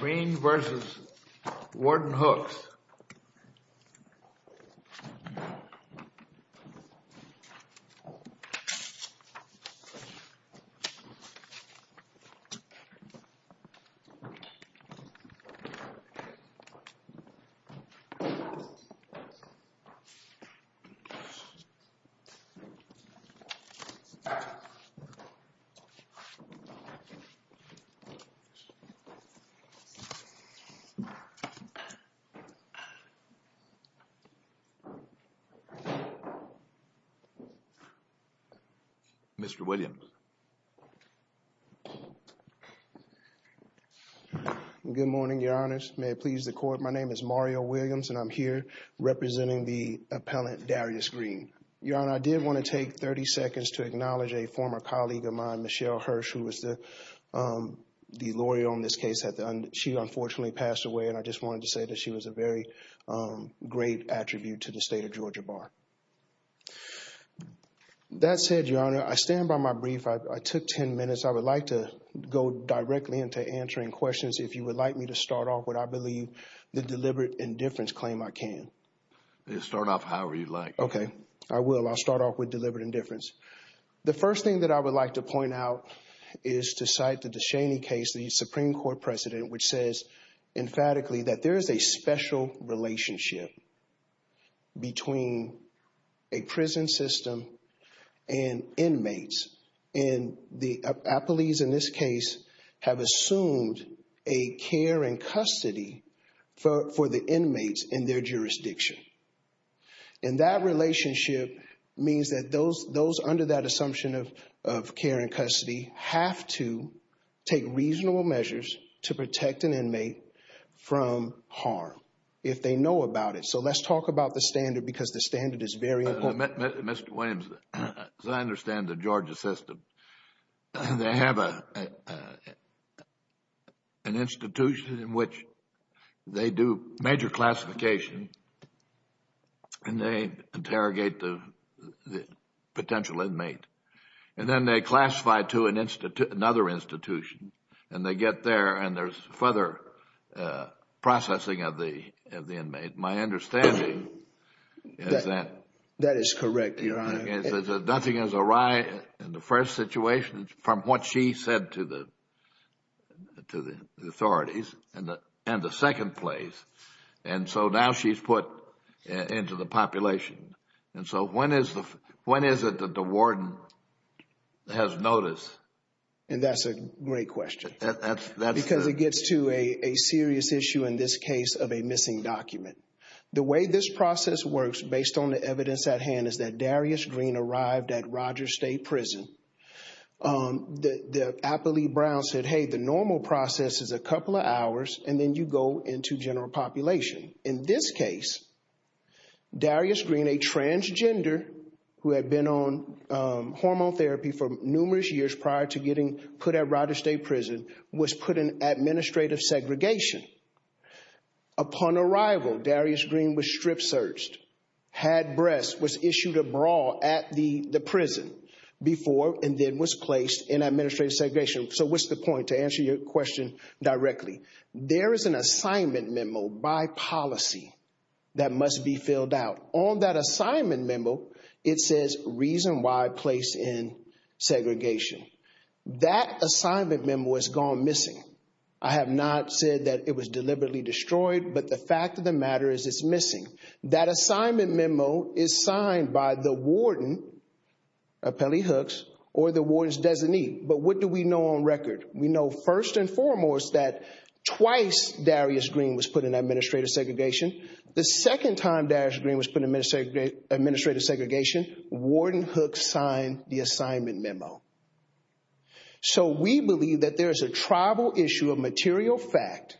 Green vs. Warden Hooks. Mr. Williams. Good morning, Your Honors. May it please the Court, my name is Mario Williams and I'm here representing the appellant Darius Green. Your Honor, I did want to take 30 seconds to acknowledge a former colleague of mine, Michelle Hirsch, who was the lawyer on this case. She unfortunately passed away and I just wanted to say that she was a very great attribute to the state of Georgia Bar. That said, Your Honor, I stand by my brief. I took 10 minutes. I would like to go directly into answering questions. If you would like me to start off, would I believe the deliberate indifference claim I can? Start off however you'd like. Okay. I will. I'll start off with deliberate indifference. The first thing that I would like to point out is to cite the DeShaney case, the Supreme Court precedent, which says emphatically that there is a special relationship between a prison system and inmates and the appellees in this case have assumed a care and custody for the inmates in their jurisdiction. And that relationship means that those under that assumption of care and custody have to take reasonable measures to protect an inmate from harm if they know about it. So let's talk about the standard because the standard is very important. Mr. Williams, as I understand the Georgia system, they have an institution in which they do major classification and they interrogate the potential inmate and then they classify to another institution and they get there and there's further processing of the inmate. My understanding is that... That is correct, Your Honor. Is that nothing is awry in the first situation from what she said to the authorities and the second place? And so now she's put into the population. And so when is it that the warden has notice? And that's a great question. Because it gets to a serious issue in this case of a missing document. The way this process works based on the evidence at hand is that Darius Green arrived at Rogers State Prison. The appellee Brown said, hey, the normal process is a couple of hours and then you go into general population. In this case, Darius Green, a transgender who had been on hormone therapy for numerous years prior to getting put at Rogers State Prison, was put in administrative segregation. Upon arrival, Darius Green was strip searched, had breasts, was issued a bra at the prison before and then was placed in administrative segregation. So what's the point? To answer your question directly, there is an assignment memo by policy that must be filled out. On that assignment memo, it says reason why placed in segregation. That assignment memo has gone missing. I have not said that it was deliberately destroyed, but the fact of the matter is it's missing. That assignment memo is signed by the warden, appellee Hooks, or the warden's designee. But what do we know on record? We know first and foremost that twice Darius Green was put in administrative segregation. The second time Darius Green was put in administrative segregation, warden Hooks signed the assignment memo. So we believe that there is a tribal issue of material fact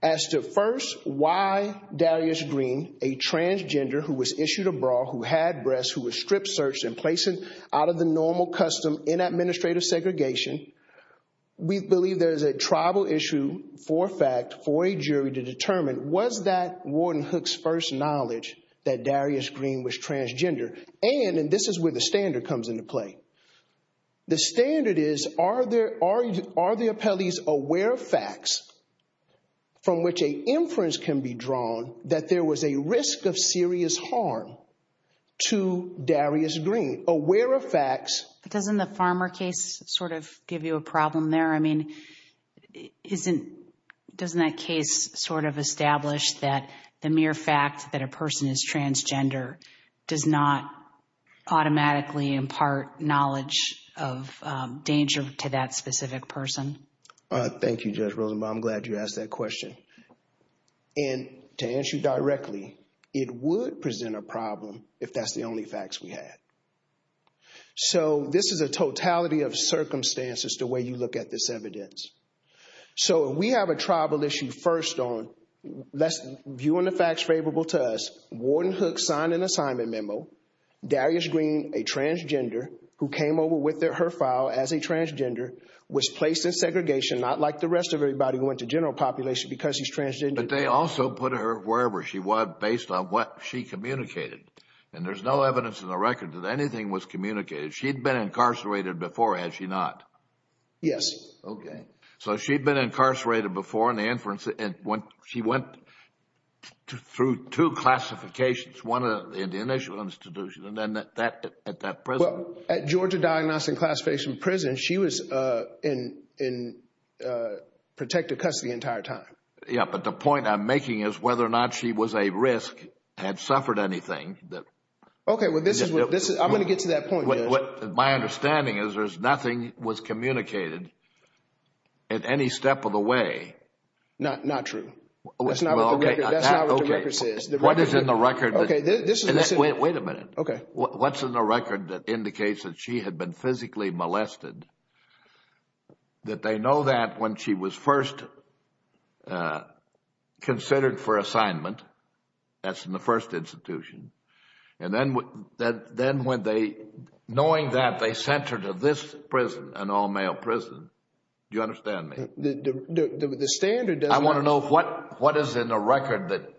as to first why Darius Green, a transgender who was issued a bra, who had breasts, who was strip searched and placed out of the normal custom in administrative segregation. We believe there is a tribal issue for fact for a jury to determine was that warden Hooks' first knowledge that Darius Green was transgender. And, and this is where the standard comes into play. The standard is, are the appellees aware of facts from which an inference can be drawn that there was a risk of serious harm to Darius Green? Aware of facts. But doesn't the Farmer case sort of give you a problem there? I mean, isn't, doesn't that case sort of establish that the mere fact that a person is transgender does not automatically impart knowledge of danger to that specific person? Thank you, Judge Rosenbaum. I'm glad you asked that question. And to answer you directly, it would present a problem if that's the only facts we had. So this is a totality of circumstances the way you look at this evidence. So we have a tribal issue first on, let's view on the facts favorable to us. Warden Hooks signed an assignment memo. Darius Green, a transgender, who came over with her file as a transgender, was placed in segregation, not like the rest of everybody who went to general population because he's transgender. But they also put her wherever she was based on what she communicated. And there's no evidence in the record that anything was communicated. She'd been incarcerated before, had she not? Yes. Okay. So she'd been incarcerated before and she went through two classifications. One in the initial institution and then at that prison. Well, at Georgia Diagnostic Classification Prison, she was in protective custody the entire time. Yeah. But the point I'm making is whether or not she was a risk, had suffered anything. Well, I'm going to get to that point, Judge. My understanding is there's nothing was communicated at any step of the way. Not true. That's not what the record says. What is in the record? Okay. Wait a minute. Okay. What's in the record that indicates that she had been physically molested? That they know that when she was first considered for assignment, that's in the first institution. And then when they, knowing that, they sent her to this prison, an all-male prison. Do you understand me? The standard doesn't... I want to know what is in the record that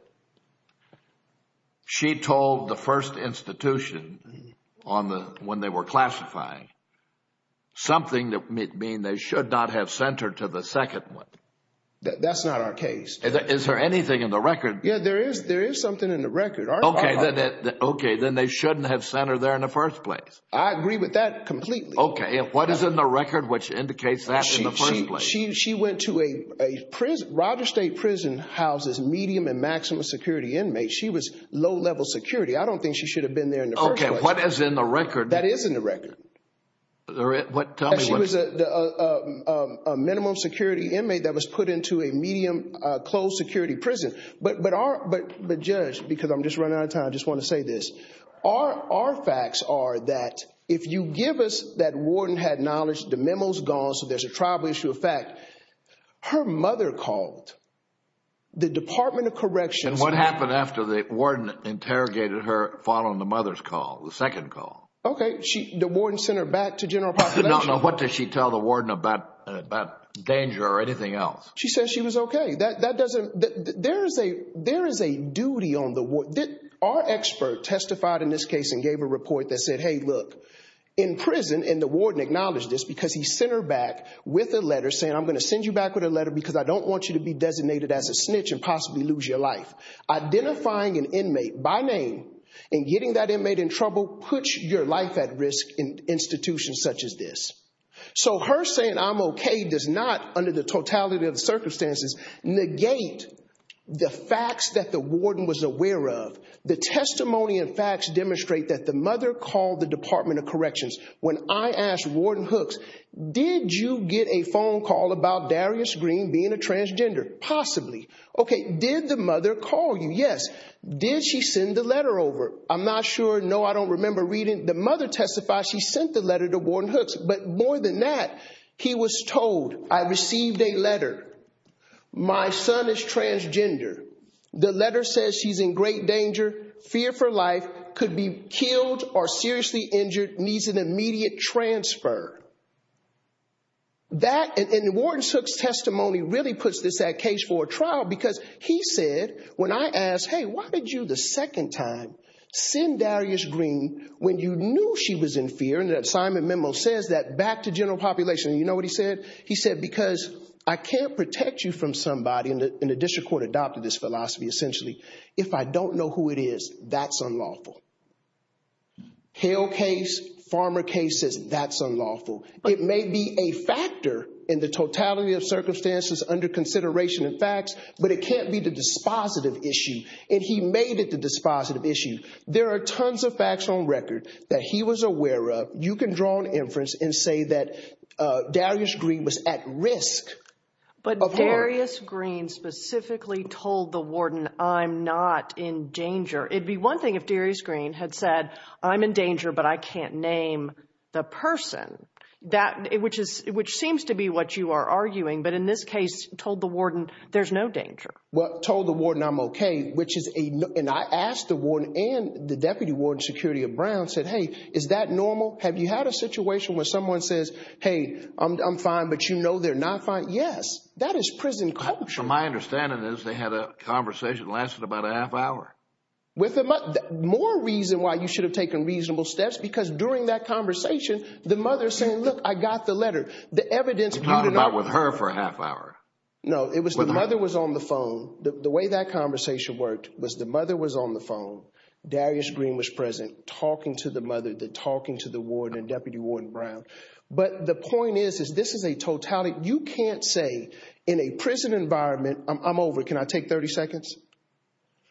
she told the first institution when they were classifying. Something that mean they should not have sent her to the second one. That's not our case, Judge. Yeah, there is something in the record. Okay. Then they shouldn't have sent her there in the first place. I agree with that completely. Okay. What is in the record which indicates that in the first place? She went to a prison, Rogers State Prison houses medium and maximum security inmates. She was low-level security. I don't think she should have been there in the first place. Okay. What is in the record? That is in the record. Tell me what... That she was a minimum security inmate that was put into a medium closed security prison. But Judge, because I'm just running out of time, I just want to say this. Our facts are that if you give us that warden had knowledge, the memo's gone, so there's a tribal issue of fact. Her mother called the Department of Corrections. What happened after the warden interrogated her following the mother's call, the second call? Okay. The warden sent her back to general population? No, no. What did she tell the warden about danger or anything else? She said she was okay. There is a duty on the warden. Our expert testified in this case and gave a report that said, hey look, in prison, and the warden acknowledged this because he sent her back with a letter saying, I'm going to send you back with a letter because I don't want you to be designated as a snitch and possibly lose your life. Identifying an inmate by name and getting that inmate in trouble puts your life at risk in institutions such as this. So her saying I'm okay does not, under the totality of circumstances, negate the facts that the warden was aware of. The testimony and facts demonstrate that the mother called the Department of Corrections. When I asked Warden Hooks, did you get a phone call about Darius Green being a transgender? Possibly. Okay. Did the mother call you? Yes. Did she send the letter over? I'm not sure. No, I don't remember reading. The mother testified she sent the letter to Warden Hooks, but more than that, he was told, I received a letter. My son is transgender. The letter says she's in great danger, fear for life, could be killed or seriously injured, needs an immediate transfer. That and Warden Hooks' testimony really puts this at case for a trial because he said, when I asked, hey, why did you the second time send Darius Green when you knew she was in fear? And that assignment memo says that back to general population. You know what he said? He said, because I can't protect you from somebody, and the district court adopted this philosophy essentially, if I don't know who it is, that's unlawful. Hale case, Farmer case says that's unlawful. It may be a factor in the totality of circumstances under consideration and facts, but it can't be the dispositive issue, and he made it the dispositive issue. There are tons of facts on record that he was aware of. You can draw an inference and say that Darius Green was at risk. But Darius Green specifically told the warden, I'm not in danger. It'd be one thing if Darius Green had said, I'm in danger, but I can't name the person. Which seems to be what you are arguing, but in this case, told the warden, there's no danger. Well, told the warden, I'm okay, and I asked the warden and the deputy warden security of Brown, said, hey, is that normal? Have you had a situation where someone says, hey, I'm fine, but you know they're not fine? Yes. That is prison culture. My understanding is they had a conversation that lasted about a half hour. More reason why you should have taken reasonable steps, because during that conversation, the mother saying, look, I got the letter. The evidence... Talked about with her for a half hour. No. No. It was the mother was on the phone. The way that conversation worked was the mother was on the phone, Darius Green was present, talking to the mother, the talking to the warden and deputy warden Brown. But the point is, is this is a totality. You can't say in a prison environment, I'm over, can I take 30 seconds,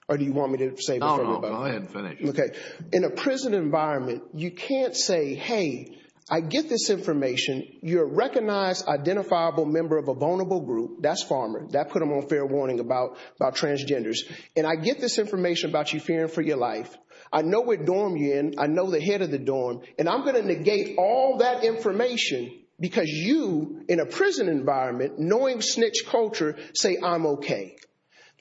or do you want me to say this? No, no. Go ahead and finish. Okay. In a prison environment, you can't say, hey, I get this information. You're a recognized, identifiable member of a vulnerable group. That's farmer. That put them on fair warning about transgenders. And I get this information about you fearing for your life. I know what dorm you're in. I know the head of the dorm, and I'm going to negate all that information because you, in a prison environment, knowing snitch culture, say, I'm okay.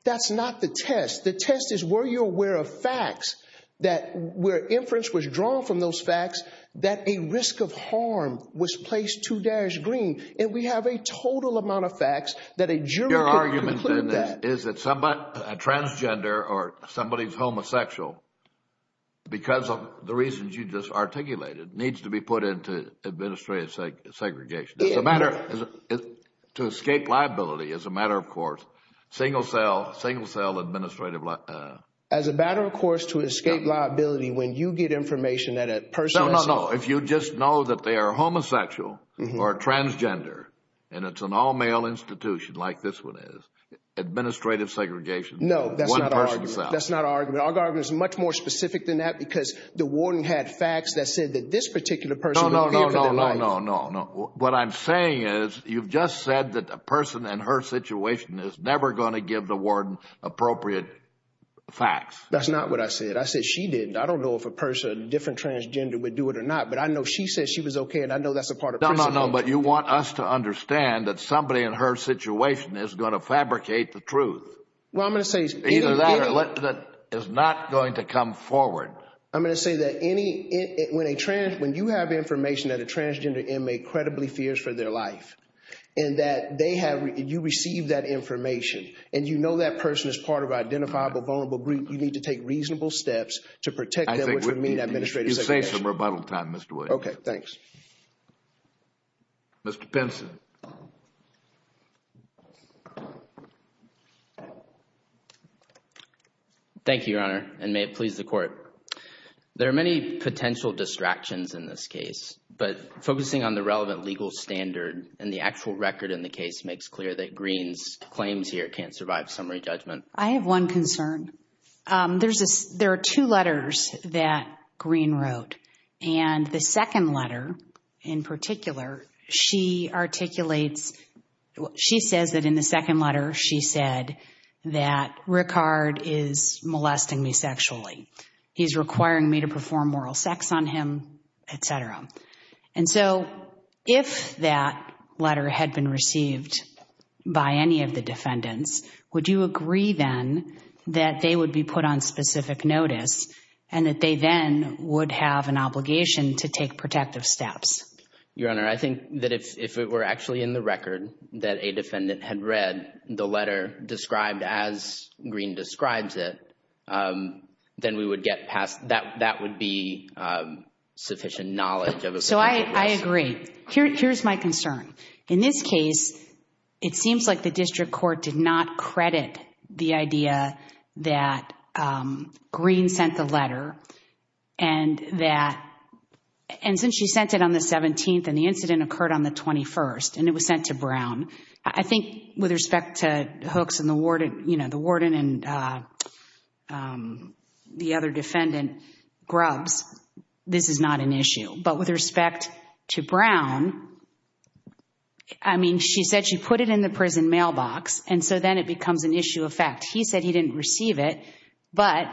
That's not the test. The test is were you aware of facts that where inference was drawn from those facts that a risk of harm was placed to Dash Green. And we have a total amount of facts that a jury could conclude that. Your argument then is that a transgender or somebody's homosexual, because of the reasons you just articulated, needs to be put into administrative segregation. To escape liability, as a matter of course, single cell, single cell administrative liability. As a matter of course, to escape liability when you get information that a person is You just know that they are homosexual or transgender, and it's an all-male institution like this one is. Administrative segregation. No, that's not our argument. One person's cell. That's not our argument. Our argument is much more specific than that because the warden had facts that said that this particular person would fear for their life. No, no, no, no, no, no, no. What I'm saying is you've just said that a person and her situation is never going to give the warden appropriate facts. That's not what I said. I said she didn't. I don't know if a person, a different transgender would do it or not, but I know she said she was okay, and I know that's a part of principle. No, no, no, but you want us to understand that somebody and her situation is going to fabricate the truth. Well, I'm going to say Either that or that is not going to come forward. I'm going to say that when you have information that a transgender inmate credibly fears for their life, and you receive that information, and you know that person is part of an identifiable vulnerable group, you need to take reasonable steps to protect them, which would mean administrative segregation. You save some rebuttal time, Mr. Williams. Okay. Thanks. Mr. Pinson. Thank you, Your Honor, and may it please the Court. There are many potential distractions in this case, but focusing on the relevant legal standard and the actual record in the case makes clear that Green's claims here can't survive summary judgment. I have one concern. There are two letters that Green wrote, and the second letter in particular, she articulates, she says that in the second letter, she said that Ricard is molesting me sexually. He's requiring me to perform moral sex on him, etc. And so, if that letter had been received by any of the defendants, would you agree then that they would be put on specific notice, and that they then would have an obligation to take protective steps? Your Honor, I think that if it were actually in the record that a defendant had read the I agree. Here's my concern. In this case, it seems like the district court did not credit the idea that Green sent the letter, and since she sent it on the 17th, and the incident occurred on the 21st, and it was sent to Brown, I think with respect to Hooks and the warden, the warden and the other defendant, Grubbs, this is not an issue. But with respect to Brown, I mean, she said she put it in the prison mailbox, and so then it becomes an issue of fact. He said he didn't receive it, but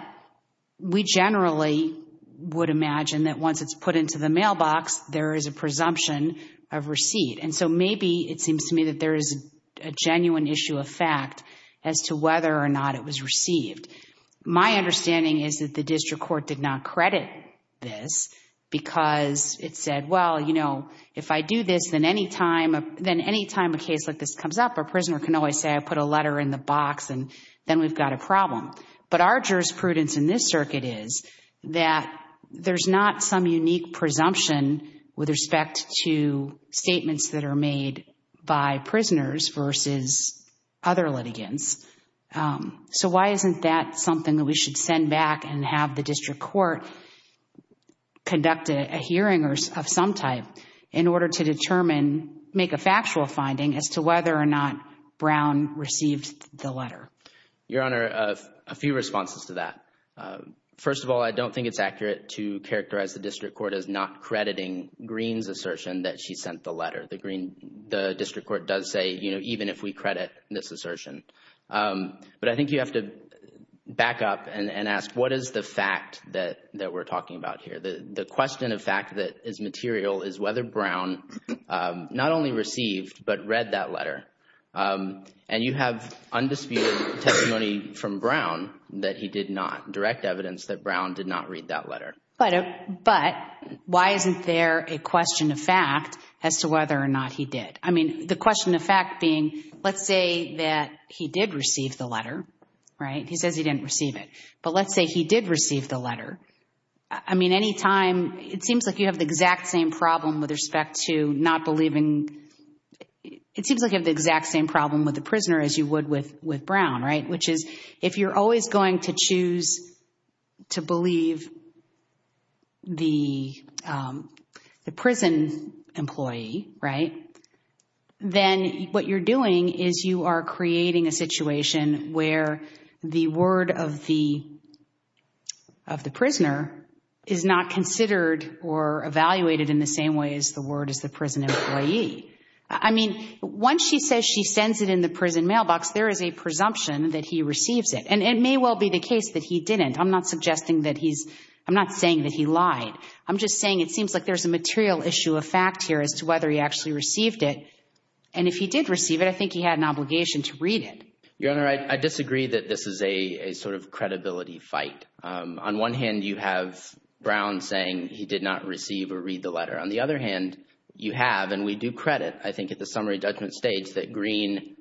we generally would imagine that once it's put into the mailbox, there is a presumption of receipt. And so maybe it seems to me that there is a genuine issue of fact as to whether or not it was received. My understanding is that the district court did not credit this because it said, well, you know, if I do this, then any time a case like this comes up, a prisoner can always say I put a letter in the box, and then we've got a problem. But our jurisprudence in this circuit is that there's not some unique presumption with respect to statements that are made by prisoners versus other litigants. So why isn't that something that we should send back and have the district court conduct a hearing of some type in order to determine, make a factual finding as to whether or not Brown received the letter? Your Honor, a few responses to that. First of all, I don't think it's accurate to characterize the district court as not reading the letter. The district court does say, you know, even if we credit this assertion. But I think you have to back up and ask what is the fact that we're talking about here? The question of fact that is material is whether Brown not only received but read that letter. And you have undisputed testimony from Brown that he did not, direct evidence that Brown did not read that letter. But why isn't there a question of fact as to whether or not he did? I mean, the question of fact being, let's say that he did receive the letter, right? He says he didn't receive it. But let's say he did receive the letter. I mean, any time, it seems like you have the exact same problem with respect to not believing, it seems like you have the exact same problem with the prisoner as you would with Brown, right? Which is, if you're always going to choose to believe the prison employee, right, then what you're doing is you are creating a situation where the word of the prisoner is not considered or evaluated in the same way as the word is the prison employee. I mean, once she says she sends it in the prison mailbox, there is a presumption that he receives it. And it may well be the case that he didn't. I'm not suggesting that he's, I'm not saying that he lied. I'm just saying it seems like there's a material issue of fact here as to whether he actually received it. And if he did receive it, I think he had an obligation to read it. Your Honor, I disagree that this is a sort of credibility fight. On one hand, you have Brown saying he did not receive or read the letter. On the other hand, you have, and we do credit, I think, at the summary judgment stage that Green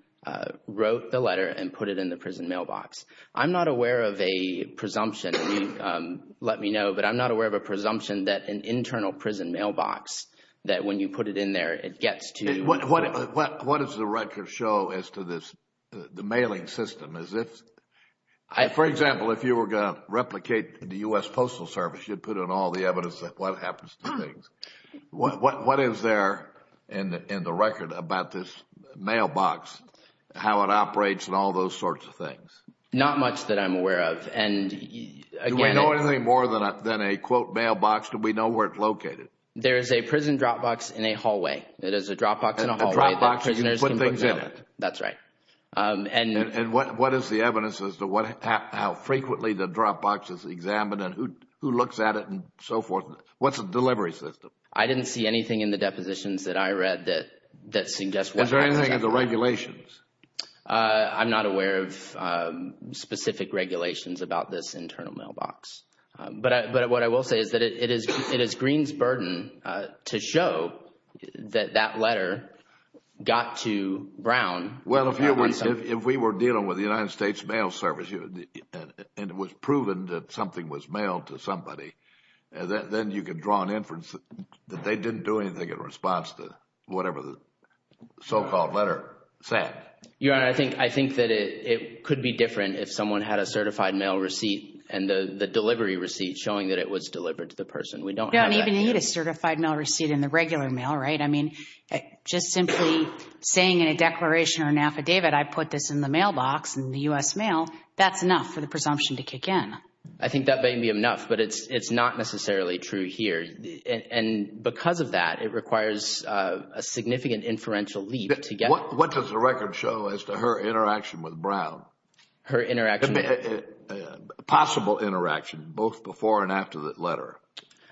wrote the letter and put it in the prison mailbox. I'm not aware of a presumption, and you let me know, but I'm not aware of a presumption that an internal prison mailbox, that when you put it in there, it gets to. What does the record show as to this, the mailing system? As if, for example, if you were going to replicate the U.S. Postal Service, you'd put in all the evidence of what happens to things. What is there in the record about this mailbox, how it operates and all those sorts of things? Not much that I'm aware of. Do we know anything more than a, quote, mailbox, do we know where it's located? There's a prison dropbox in a hallway. It is a dropbox in a hallway that prisoners can put things in. That's right. And what is the evidence as to how frequently the dropbox is examined and who looks at it and so forth? What's the delivery system? I didn't see anything in the depositions that I read that suggests what happens. Is there anything in the regulations? I'm not aware of specific regulations about this internal mailbox, but what I will say is that it is Green's burden to show that that letter got to Brown. Well, if we were dealing with the United States Mail Service and it was proven that something was mailed to somebody, then you could draw an inference that they didn't do anything in response to whatever the so-called letter said. Your Honor, I think that it could be different if someone had a certified mail receipt and the delivery receipt showing that it was delivered to the person. We don't have that here. You don't even need a certified mail receipt in the regular mail, right? I mean, just simply saying in a declaration or an affidavit, I put this in the mailbox in the U.S. Mail, that's enough for the presumption to kick in. I think that may be enough, but it's not necessarily true here. And because of that, it requires a significant inferential leap to get... What does the record show as to her interaction with Brown? Her interaction? I mean, a possible interaction, both before and after that letter.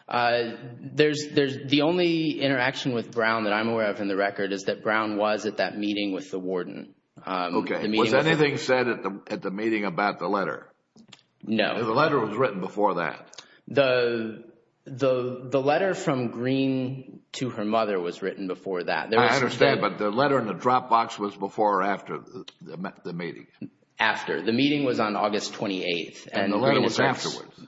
The only interaction with Brown that I'm aware of in the record is that Brown was at that meeting with the warden. Okay. Was anything said at the meeting about the letter? No. The letter was written before that? The letter from Greene to her mother was written before that. I understand, but the letter in the drop box was before or after the meeting? After. The meeting was on August 28th and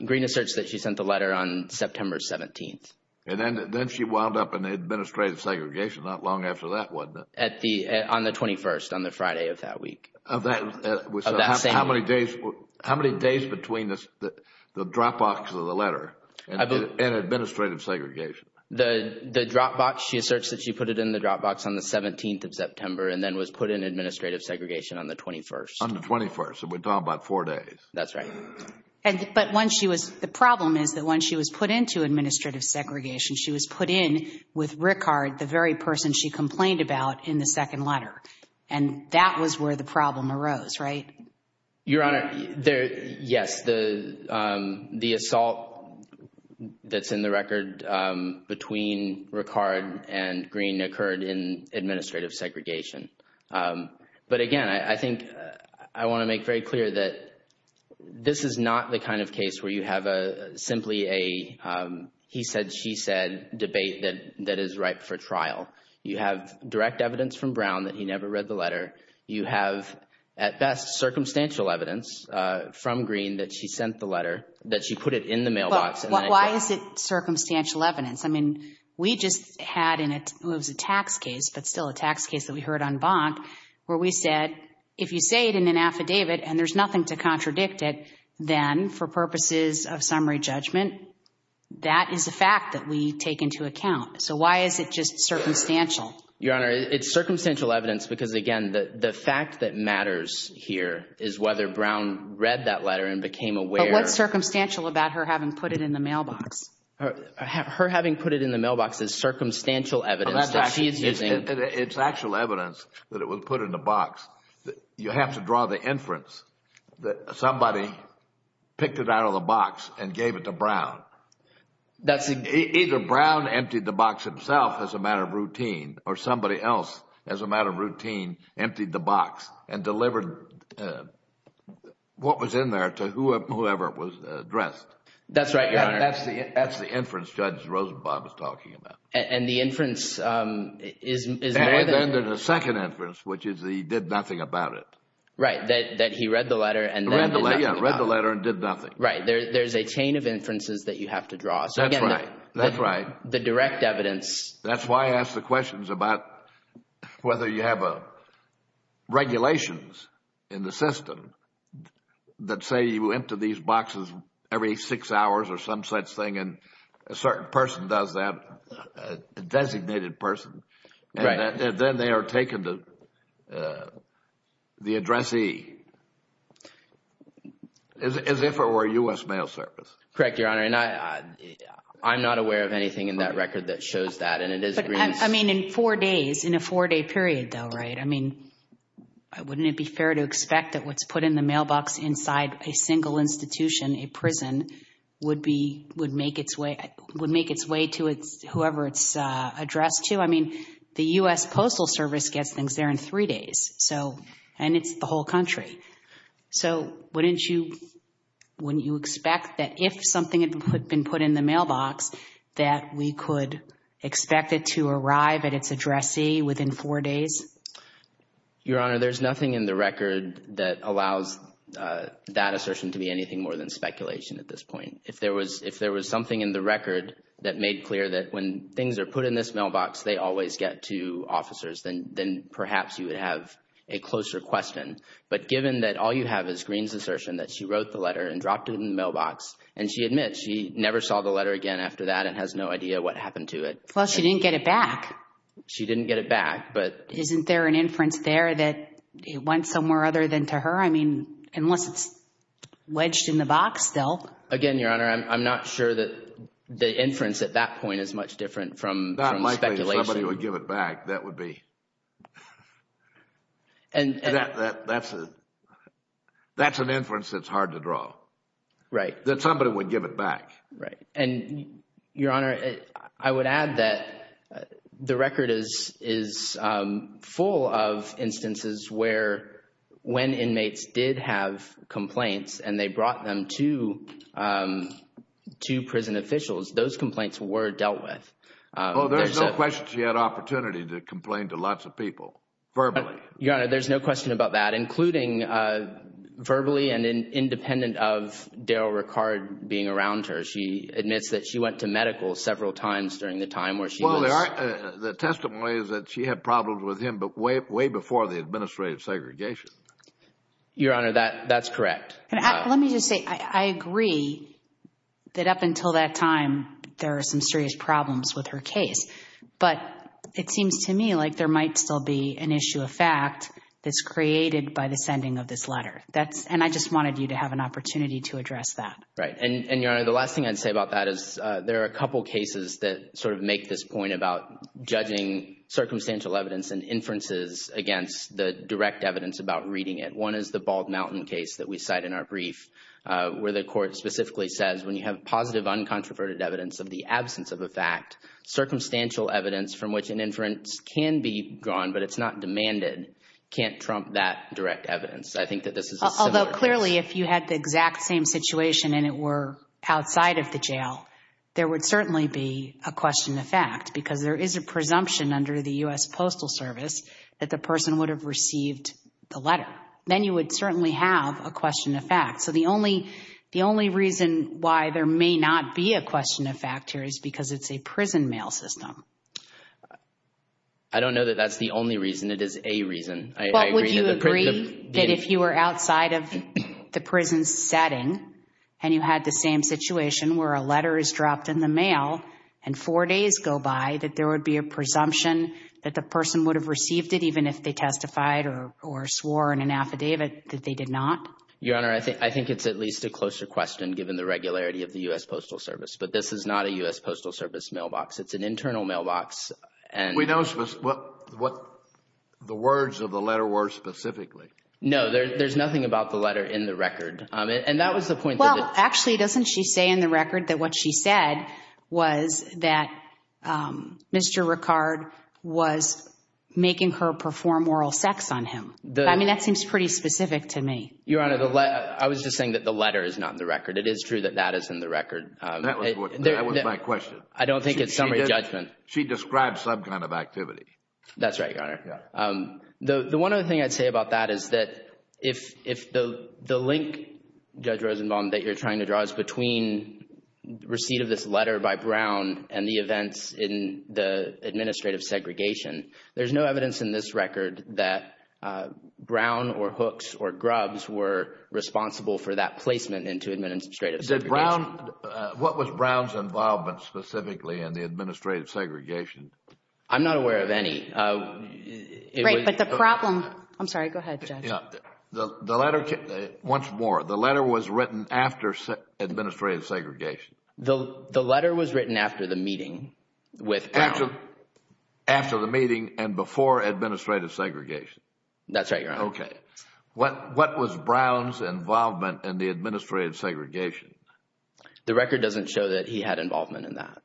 Greene asserts that she sent the letter on September 17th. And then she wound up in administrative segregation not long after that, wasn't it? On the 21st, on the Friday of that week. Of that same week? How many days between the drop box of the letter and administrative segregation? The drop box, she asserts that she put it in the drop box on the 17th of September and then was put in administrative segregation on the 21st. On the 21st. So we're talking about four days. That's right. But once she was... The problem is that once she was put into administrative segregation, she was put in with Rickard, the very person she complained about in the second letter. And that was where the problem arose, right? Your Honor, yes. The assault that's in the record between Rickard and Greene occurred in administrative segregation. But again, I think I want to make very clear that this is not the kind of case where you have simply a he said, she said debate that is ripe for trial. You have direct evidence from Brown that he never read the letter. You have, at best, circumstantial evidence from Greene that she sent the letter, that she put it in the mailbox. Why is it circumstantial evidence? I mean, we just had in it was a tax case, but still a tax case that we heard on Bonk where we said, if you say it in an affidavit and there's nothing to contradict it, then for purposes of summary judgment, that is a fact that we take into account. So why is it just circumstantial? Your Honor, it's circumstantial evidence because, again, the fact that matters here is whether Brown read that letter and became aware. But what's circumstantial about her having put it in the mailbox? Her having put it in the mailbox is circumstantial evidence that she is using. It's actual evidence that it was put in the box. You have to draw the inference that somebody picked it out of the box and gave it to Brown. Either Brown emptied the box himself as a matter of routine or somebody else, as a matter of routine, emptied the box and delivered what was in there to whoever it was addressed. That's right, Your Honor. That's the inference Judge Rosenbaum is talking about. And the inference is more than... And then there's a second inference, which is that he did nothing about it. Right, that he read the letter and then did nothing about it. Yeah, read the letter and did nothing. Right. There's a chain of inferences that you have to draw. That's right. That's right. The direct evidence... That's why I asked the questions about whether you have regulations in the system that say you empty these boxes every six hours or some such thing and a certain person does that, a designated person, and then they are taken to the addressee. As if it were a U.S. mail service. Correct, Your Honor. And I'm not aware of anything in that record that shows that. And it is... But, I mean, in four days, in a four-day period though, right, I mean, wouldn't it be fair to expect that what's put in the mailbox inside a single institution, a prison, would make its way to whoever it's addressed to? I mean, the U.S. Postal Service gets things there in three days. So... And it's the whole country. So wouldn't you expect that if something had been put in the mailbox, that we could expect it to arrive at its addressee within four days? Your Honor, there's nothing in the record that allows that assertion to be anything more than speculation at this point. If there was something in the record that made clear that when things are put in this a closer question. But given that all you have is Greene's assertion that she wrote the letter and dropped it in the mailbox, and she admits she never saw the letter again after that and has no idea what happened to it. Well, she didn't get it back. She didn't get it back, but... Isn't there an inference there that it went somewhere other than to her? I mean, unless it's wedged in the box still. Again, Your Honor, I'm not sure that the inference at that point is much different from speculation. If somebody would give it back, that would be... And that's an inference that's hard to draw. Right. That somebody would give it back. Right. And Your Honor, I would add that the record is full of instances where when inmates did have complaints and they brought them to prison officials, those complaints were dealt with. Well, there's no question she had opportunity to complain to lots of people, verbally. Your Honor, there's no question about that, including verbally and independent of Daryl Ricard being around her. She admits that she went to medical several times during the time where she was... Well, there are... The testimony is that she had problems with him, but way before the administrative segregation. Your Honor, that's correct. Let me just say, I agree that up until that time, there are some serious problems with her case, but it seems to me like there might still be an issue of fact that's created by the sending of this letter. And I just wanted you to have an opportunity to address that. Right. And Your Honor, the last thing I'd say about that is there are a couple cases that sort of make this point about judging circumstantial evidence and inferences against the direct evidence about reading it. One is the Bald Mountain case that we cite in our brief, where the court specifically says when you have positive uncontroverted evidence of the absence of a fact, circumstantial evidence from which an inference can be drawn, but it's not demanded, can't trump that direct evidence. I think that this is a similar case. Although clearly, if you had the exact same situation and it were outside of the jail, there would certainly be a question of fact, because there is a presumption under the U.S. Then you would certainly have a question of fact. So the only reason why there may not be a question of fact here is because it's a prison mail system. I don't know that that's the only reason. It is a reason. I agree that the prison— But would you agree that if you were outside of the prison setting and you had the same situation where a letter is dropped in the mail and four days go by, that there would be a presumption that the person would have received it even if they testified or swore in an affidavit that they did not? Your Honor, I think it's at least a closer question given the regularity of the U.S. Postal Service. But this is not a U.S. Postal Service mailbox. It's an internal mailbox. We know what the words of the letter were specifically. No. There's nothing about the letter in the record. And that was the point— Well, actually, doesn't she say in the record that what she said was that Mr. Ricard was making her perform oral sex on him? I mean, that seems pretty specific to me. Your Honor, I was just saying that the letter is not in the record. It is true that that is in the record. That was my question. I don't think it's summary judgment. She described some kind of activity. That's right, Your Honor. The one other thing I'd say about that is that if the link, Judge Rosenbaum, that you're trying to draw is between receipt of this letter by Brown and the events in the administrative segregation, there's no evidence in this record that Brown or Hooks or Grubbs were responsible for that placement into administrative segregation. What was Brown's involvement specifically in the administrative segregation? I'm not aware of any. Right. But the problem—I'm sorry. Go ahead, Judge. Once more, the letter was written after administrative segregation? The letter was written after the meeting with Brown. After the meeting and before administrative segregation? That's right, Your Honor. Okay. What was Brown's involvement in the administrative segregation? The record doesn't show that he had involvement in that.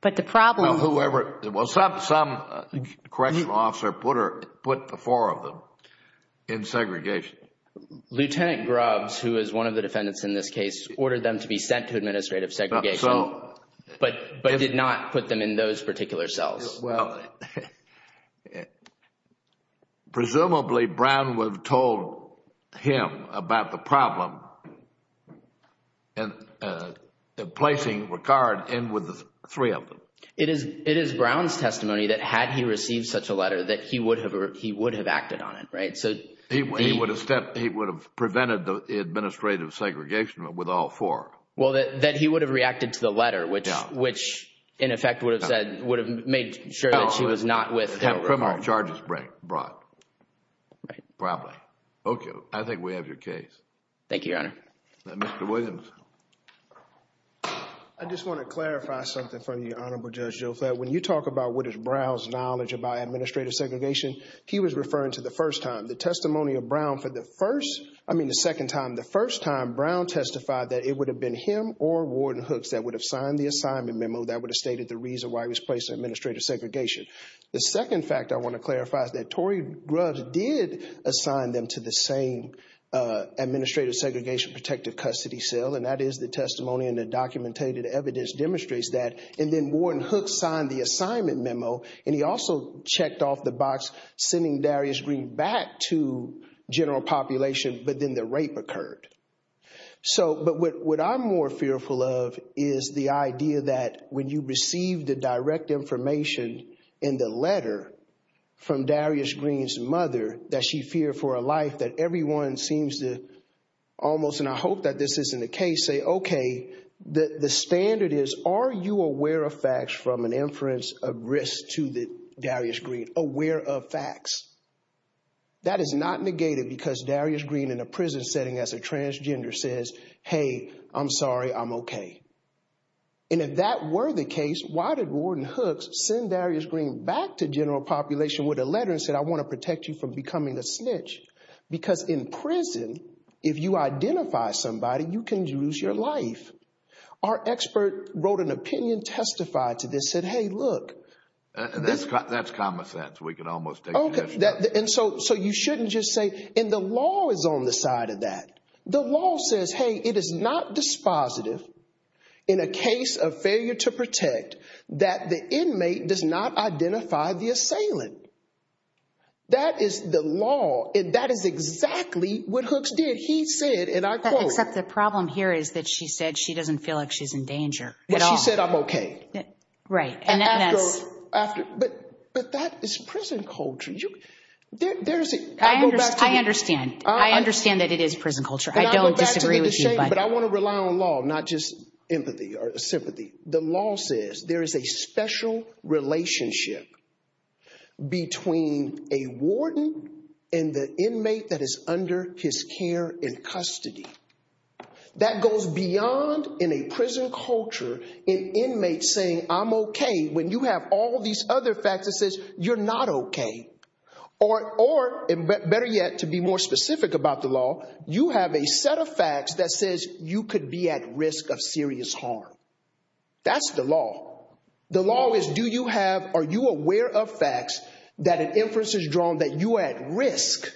But the problem— Well, whoever—well, some correctional officer put the four of them in segregation. Lieutenant Grubbs, who is one of the defendants in this case, ordered them to be sent to administrative segregation but did not put them in those particular cells. Well, presumably, Brown would have told him about the problem in placing regard in with the three of them. It is Brown's testimony that had he received such a letter that he would have acted on it, right? He would have prevented the administrative segregation with all four. Well, that he would have reacted to the letter, which in effect would have said—would have made sure that he was not with him. The criminal charges brought. Right. Probably. Okay. I think we have your case. Thank you, Your Honor. Mr. Williams. I just want to clarify something for you, Honorable Judge Jofet. When you talk about what is Brown's knowledge about administrative segregation, he was referring to the first time. The testimony of Brown for the first—I mean the second time. The first time, Brown testified that it would have been him or Warden Hooks that would have signed the assignment memo that would have stated the reason why he was placed in administrative segregation. The second fact I want to clarify is that Tory Grubbs did assign them to the same administrative segregation protective custody cell, and that is the testimony and the documented evidence demonstrates that. And then Warden Hooks signed the assignment memo, and he also checked off the box sending Darius Green back to general population, but then the rape occurred. So but what I'm more fearful of is the idea that when you receive the direct information in the letter from Darius Green's mother, that she feared for her life, that everyone seems to almost—and I hope that this isn't the case—say, okay, the standard is, are you aware of facts from an inference of risk to Darius Green? Aware of facts. That is not negated because Darius Green in a prison setting as a transgender says, hey, I'm sorry, I'm okay. And if that were the case, why did Warden Hooks send Darius Green back to general population with a letter and said, I want to protect you from becoming a snitch? Because in prison, if you identify somebody, you can lose your life. Our expert wrote an opinion testified to this, said, hey, look. That's common sense. We can almost take it as— Okay. And so you shouldn't just say—and the law is on the side of that. The law says, hey, it is not dispositive in a case of failure to protect that the inmate does not identify the assailant. That is the law, and that is exactly what Hooks did. He said, and I quote— She doesn't feel like she's in danger at all. But she said, I'm okay. Right. And that's— After—but that is prison culture. There's a— I understand. I understand that it is prison culture. I don't disagree with you, but— But I want to rely on law, not just empathy or sympathy. The law says there is a special relationship between a warden and the inmate that is under his care and custody. That goes beyond in a prison culture an inmate saying, I'm okay, when you have all these other facts that says you're not okay. Or better yet, to be more specific about the law, you have a set of facts that says you could be at risk of serious harm. That's the law. The law is, do you have—are you aware of facts that an inference is drawn that you are at risk?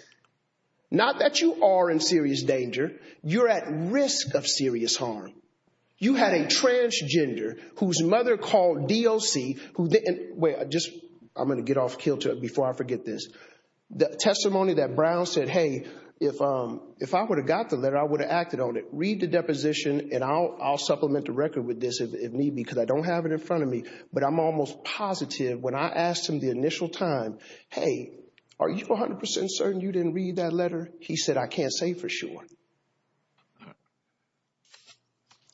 Not that you are in serious danger. You're at risk of serious harm. You had a transgender whose mother called DOC, who didn't—wait, I'm going to get off kilter before I forget this. The testimony that Brown said, hey, if I would have got the letter, I would have acted on it. Read the deposition, and I'll supplement the record with this if need be, because I don't have it in front of me. But I'm almost positive when I asked him the initial time, hey, are you 100 percent certain you didn't read that letter? He said, I can't say for sure.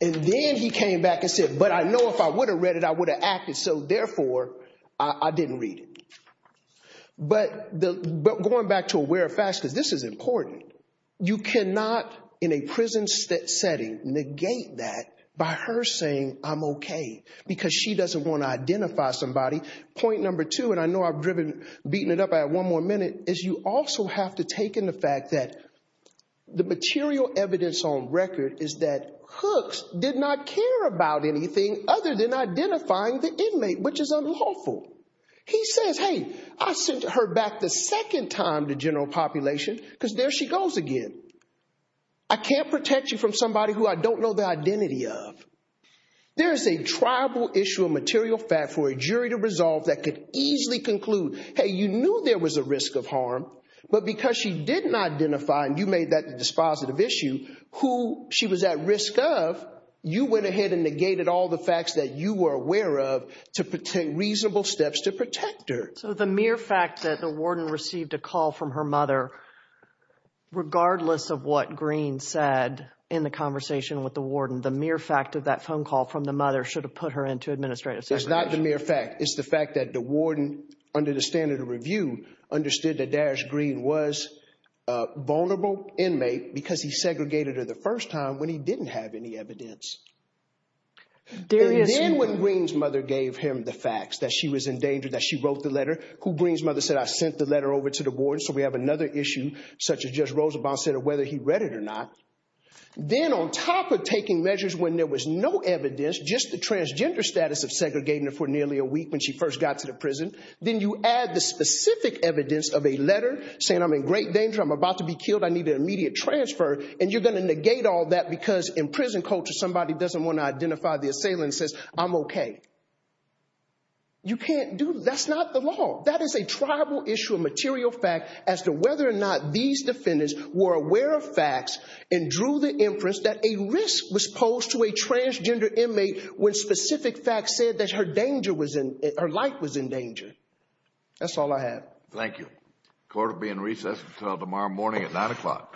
And then he came back and said, but I know if I would have read it, I would have acted, so therefore, I didn't read it. But going back to aware of facts, because this is important, you cannot, in a prison setting, negate that by her saying, I'm okay, because she doesn't want to identify somebody. Point number two, and I know I've driven, beaten it up, I have one more minute, is you also have to take in the fact that the material evidence on record is that Hooks did not care about anything other than identifying the inmate, which is unlawful. He says, hey, I sent her back the second time to general population, because there she goes again. I can't protect you from somebody who I don't know the identity of. There is a tribal issue of material fact for a jury to resolve that could easily conclude, hey, you knew there was a risk of harm, but because she didn't identify, and you made that a dispositive issue, who she was at risk of, you went ahead and negated all the facts that you were aware of to take reasonable steps to protect her. So the mere fact that the warden received a call from her mother, regardless of what that phone call from the mother should have put her into administrative segregation. It's not the mere fact. It's the fact that the warden, under the standard of review, understood that Darish Green was a vulnerable inmate because he segregated her the first time when he didn't have any evidence. And then when Green's mother gave him the facts, that she was in danger, that she wrote the letter, who Green's mother said, I sent the letter over to the warden, so we have another issue, such as Judge Rosabond said, of whether he read it or not, then on top of taking measures when there was no evidence, just the transgender status of segregating her for nearly a week when she first got to the prison, then you add the specific evidence of a letter saying, I'm in great danger, I'm about to be killed, I need an immediate transfer, and you're going to negate all that because in prison culture, somebody doesn't want to identify the assailant and says, I'm OK. You can't do that. That's not the law. That is a tribal issue, a material fact, as to whether or not these defendants were aware of facts and drew the inference that a risk was posed to a transgender inmate when specific facts said that her life was in danger. That's all I have. Thank you. Court will be in recess until tomorrow morning at 9 o'clock.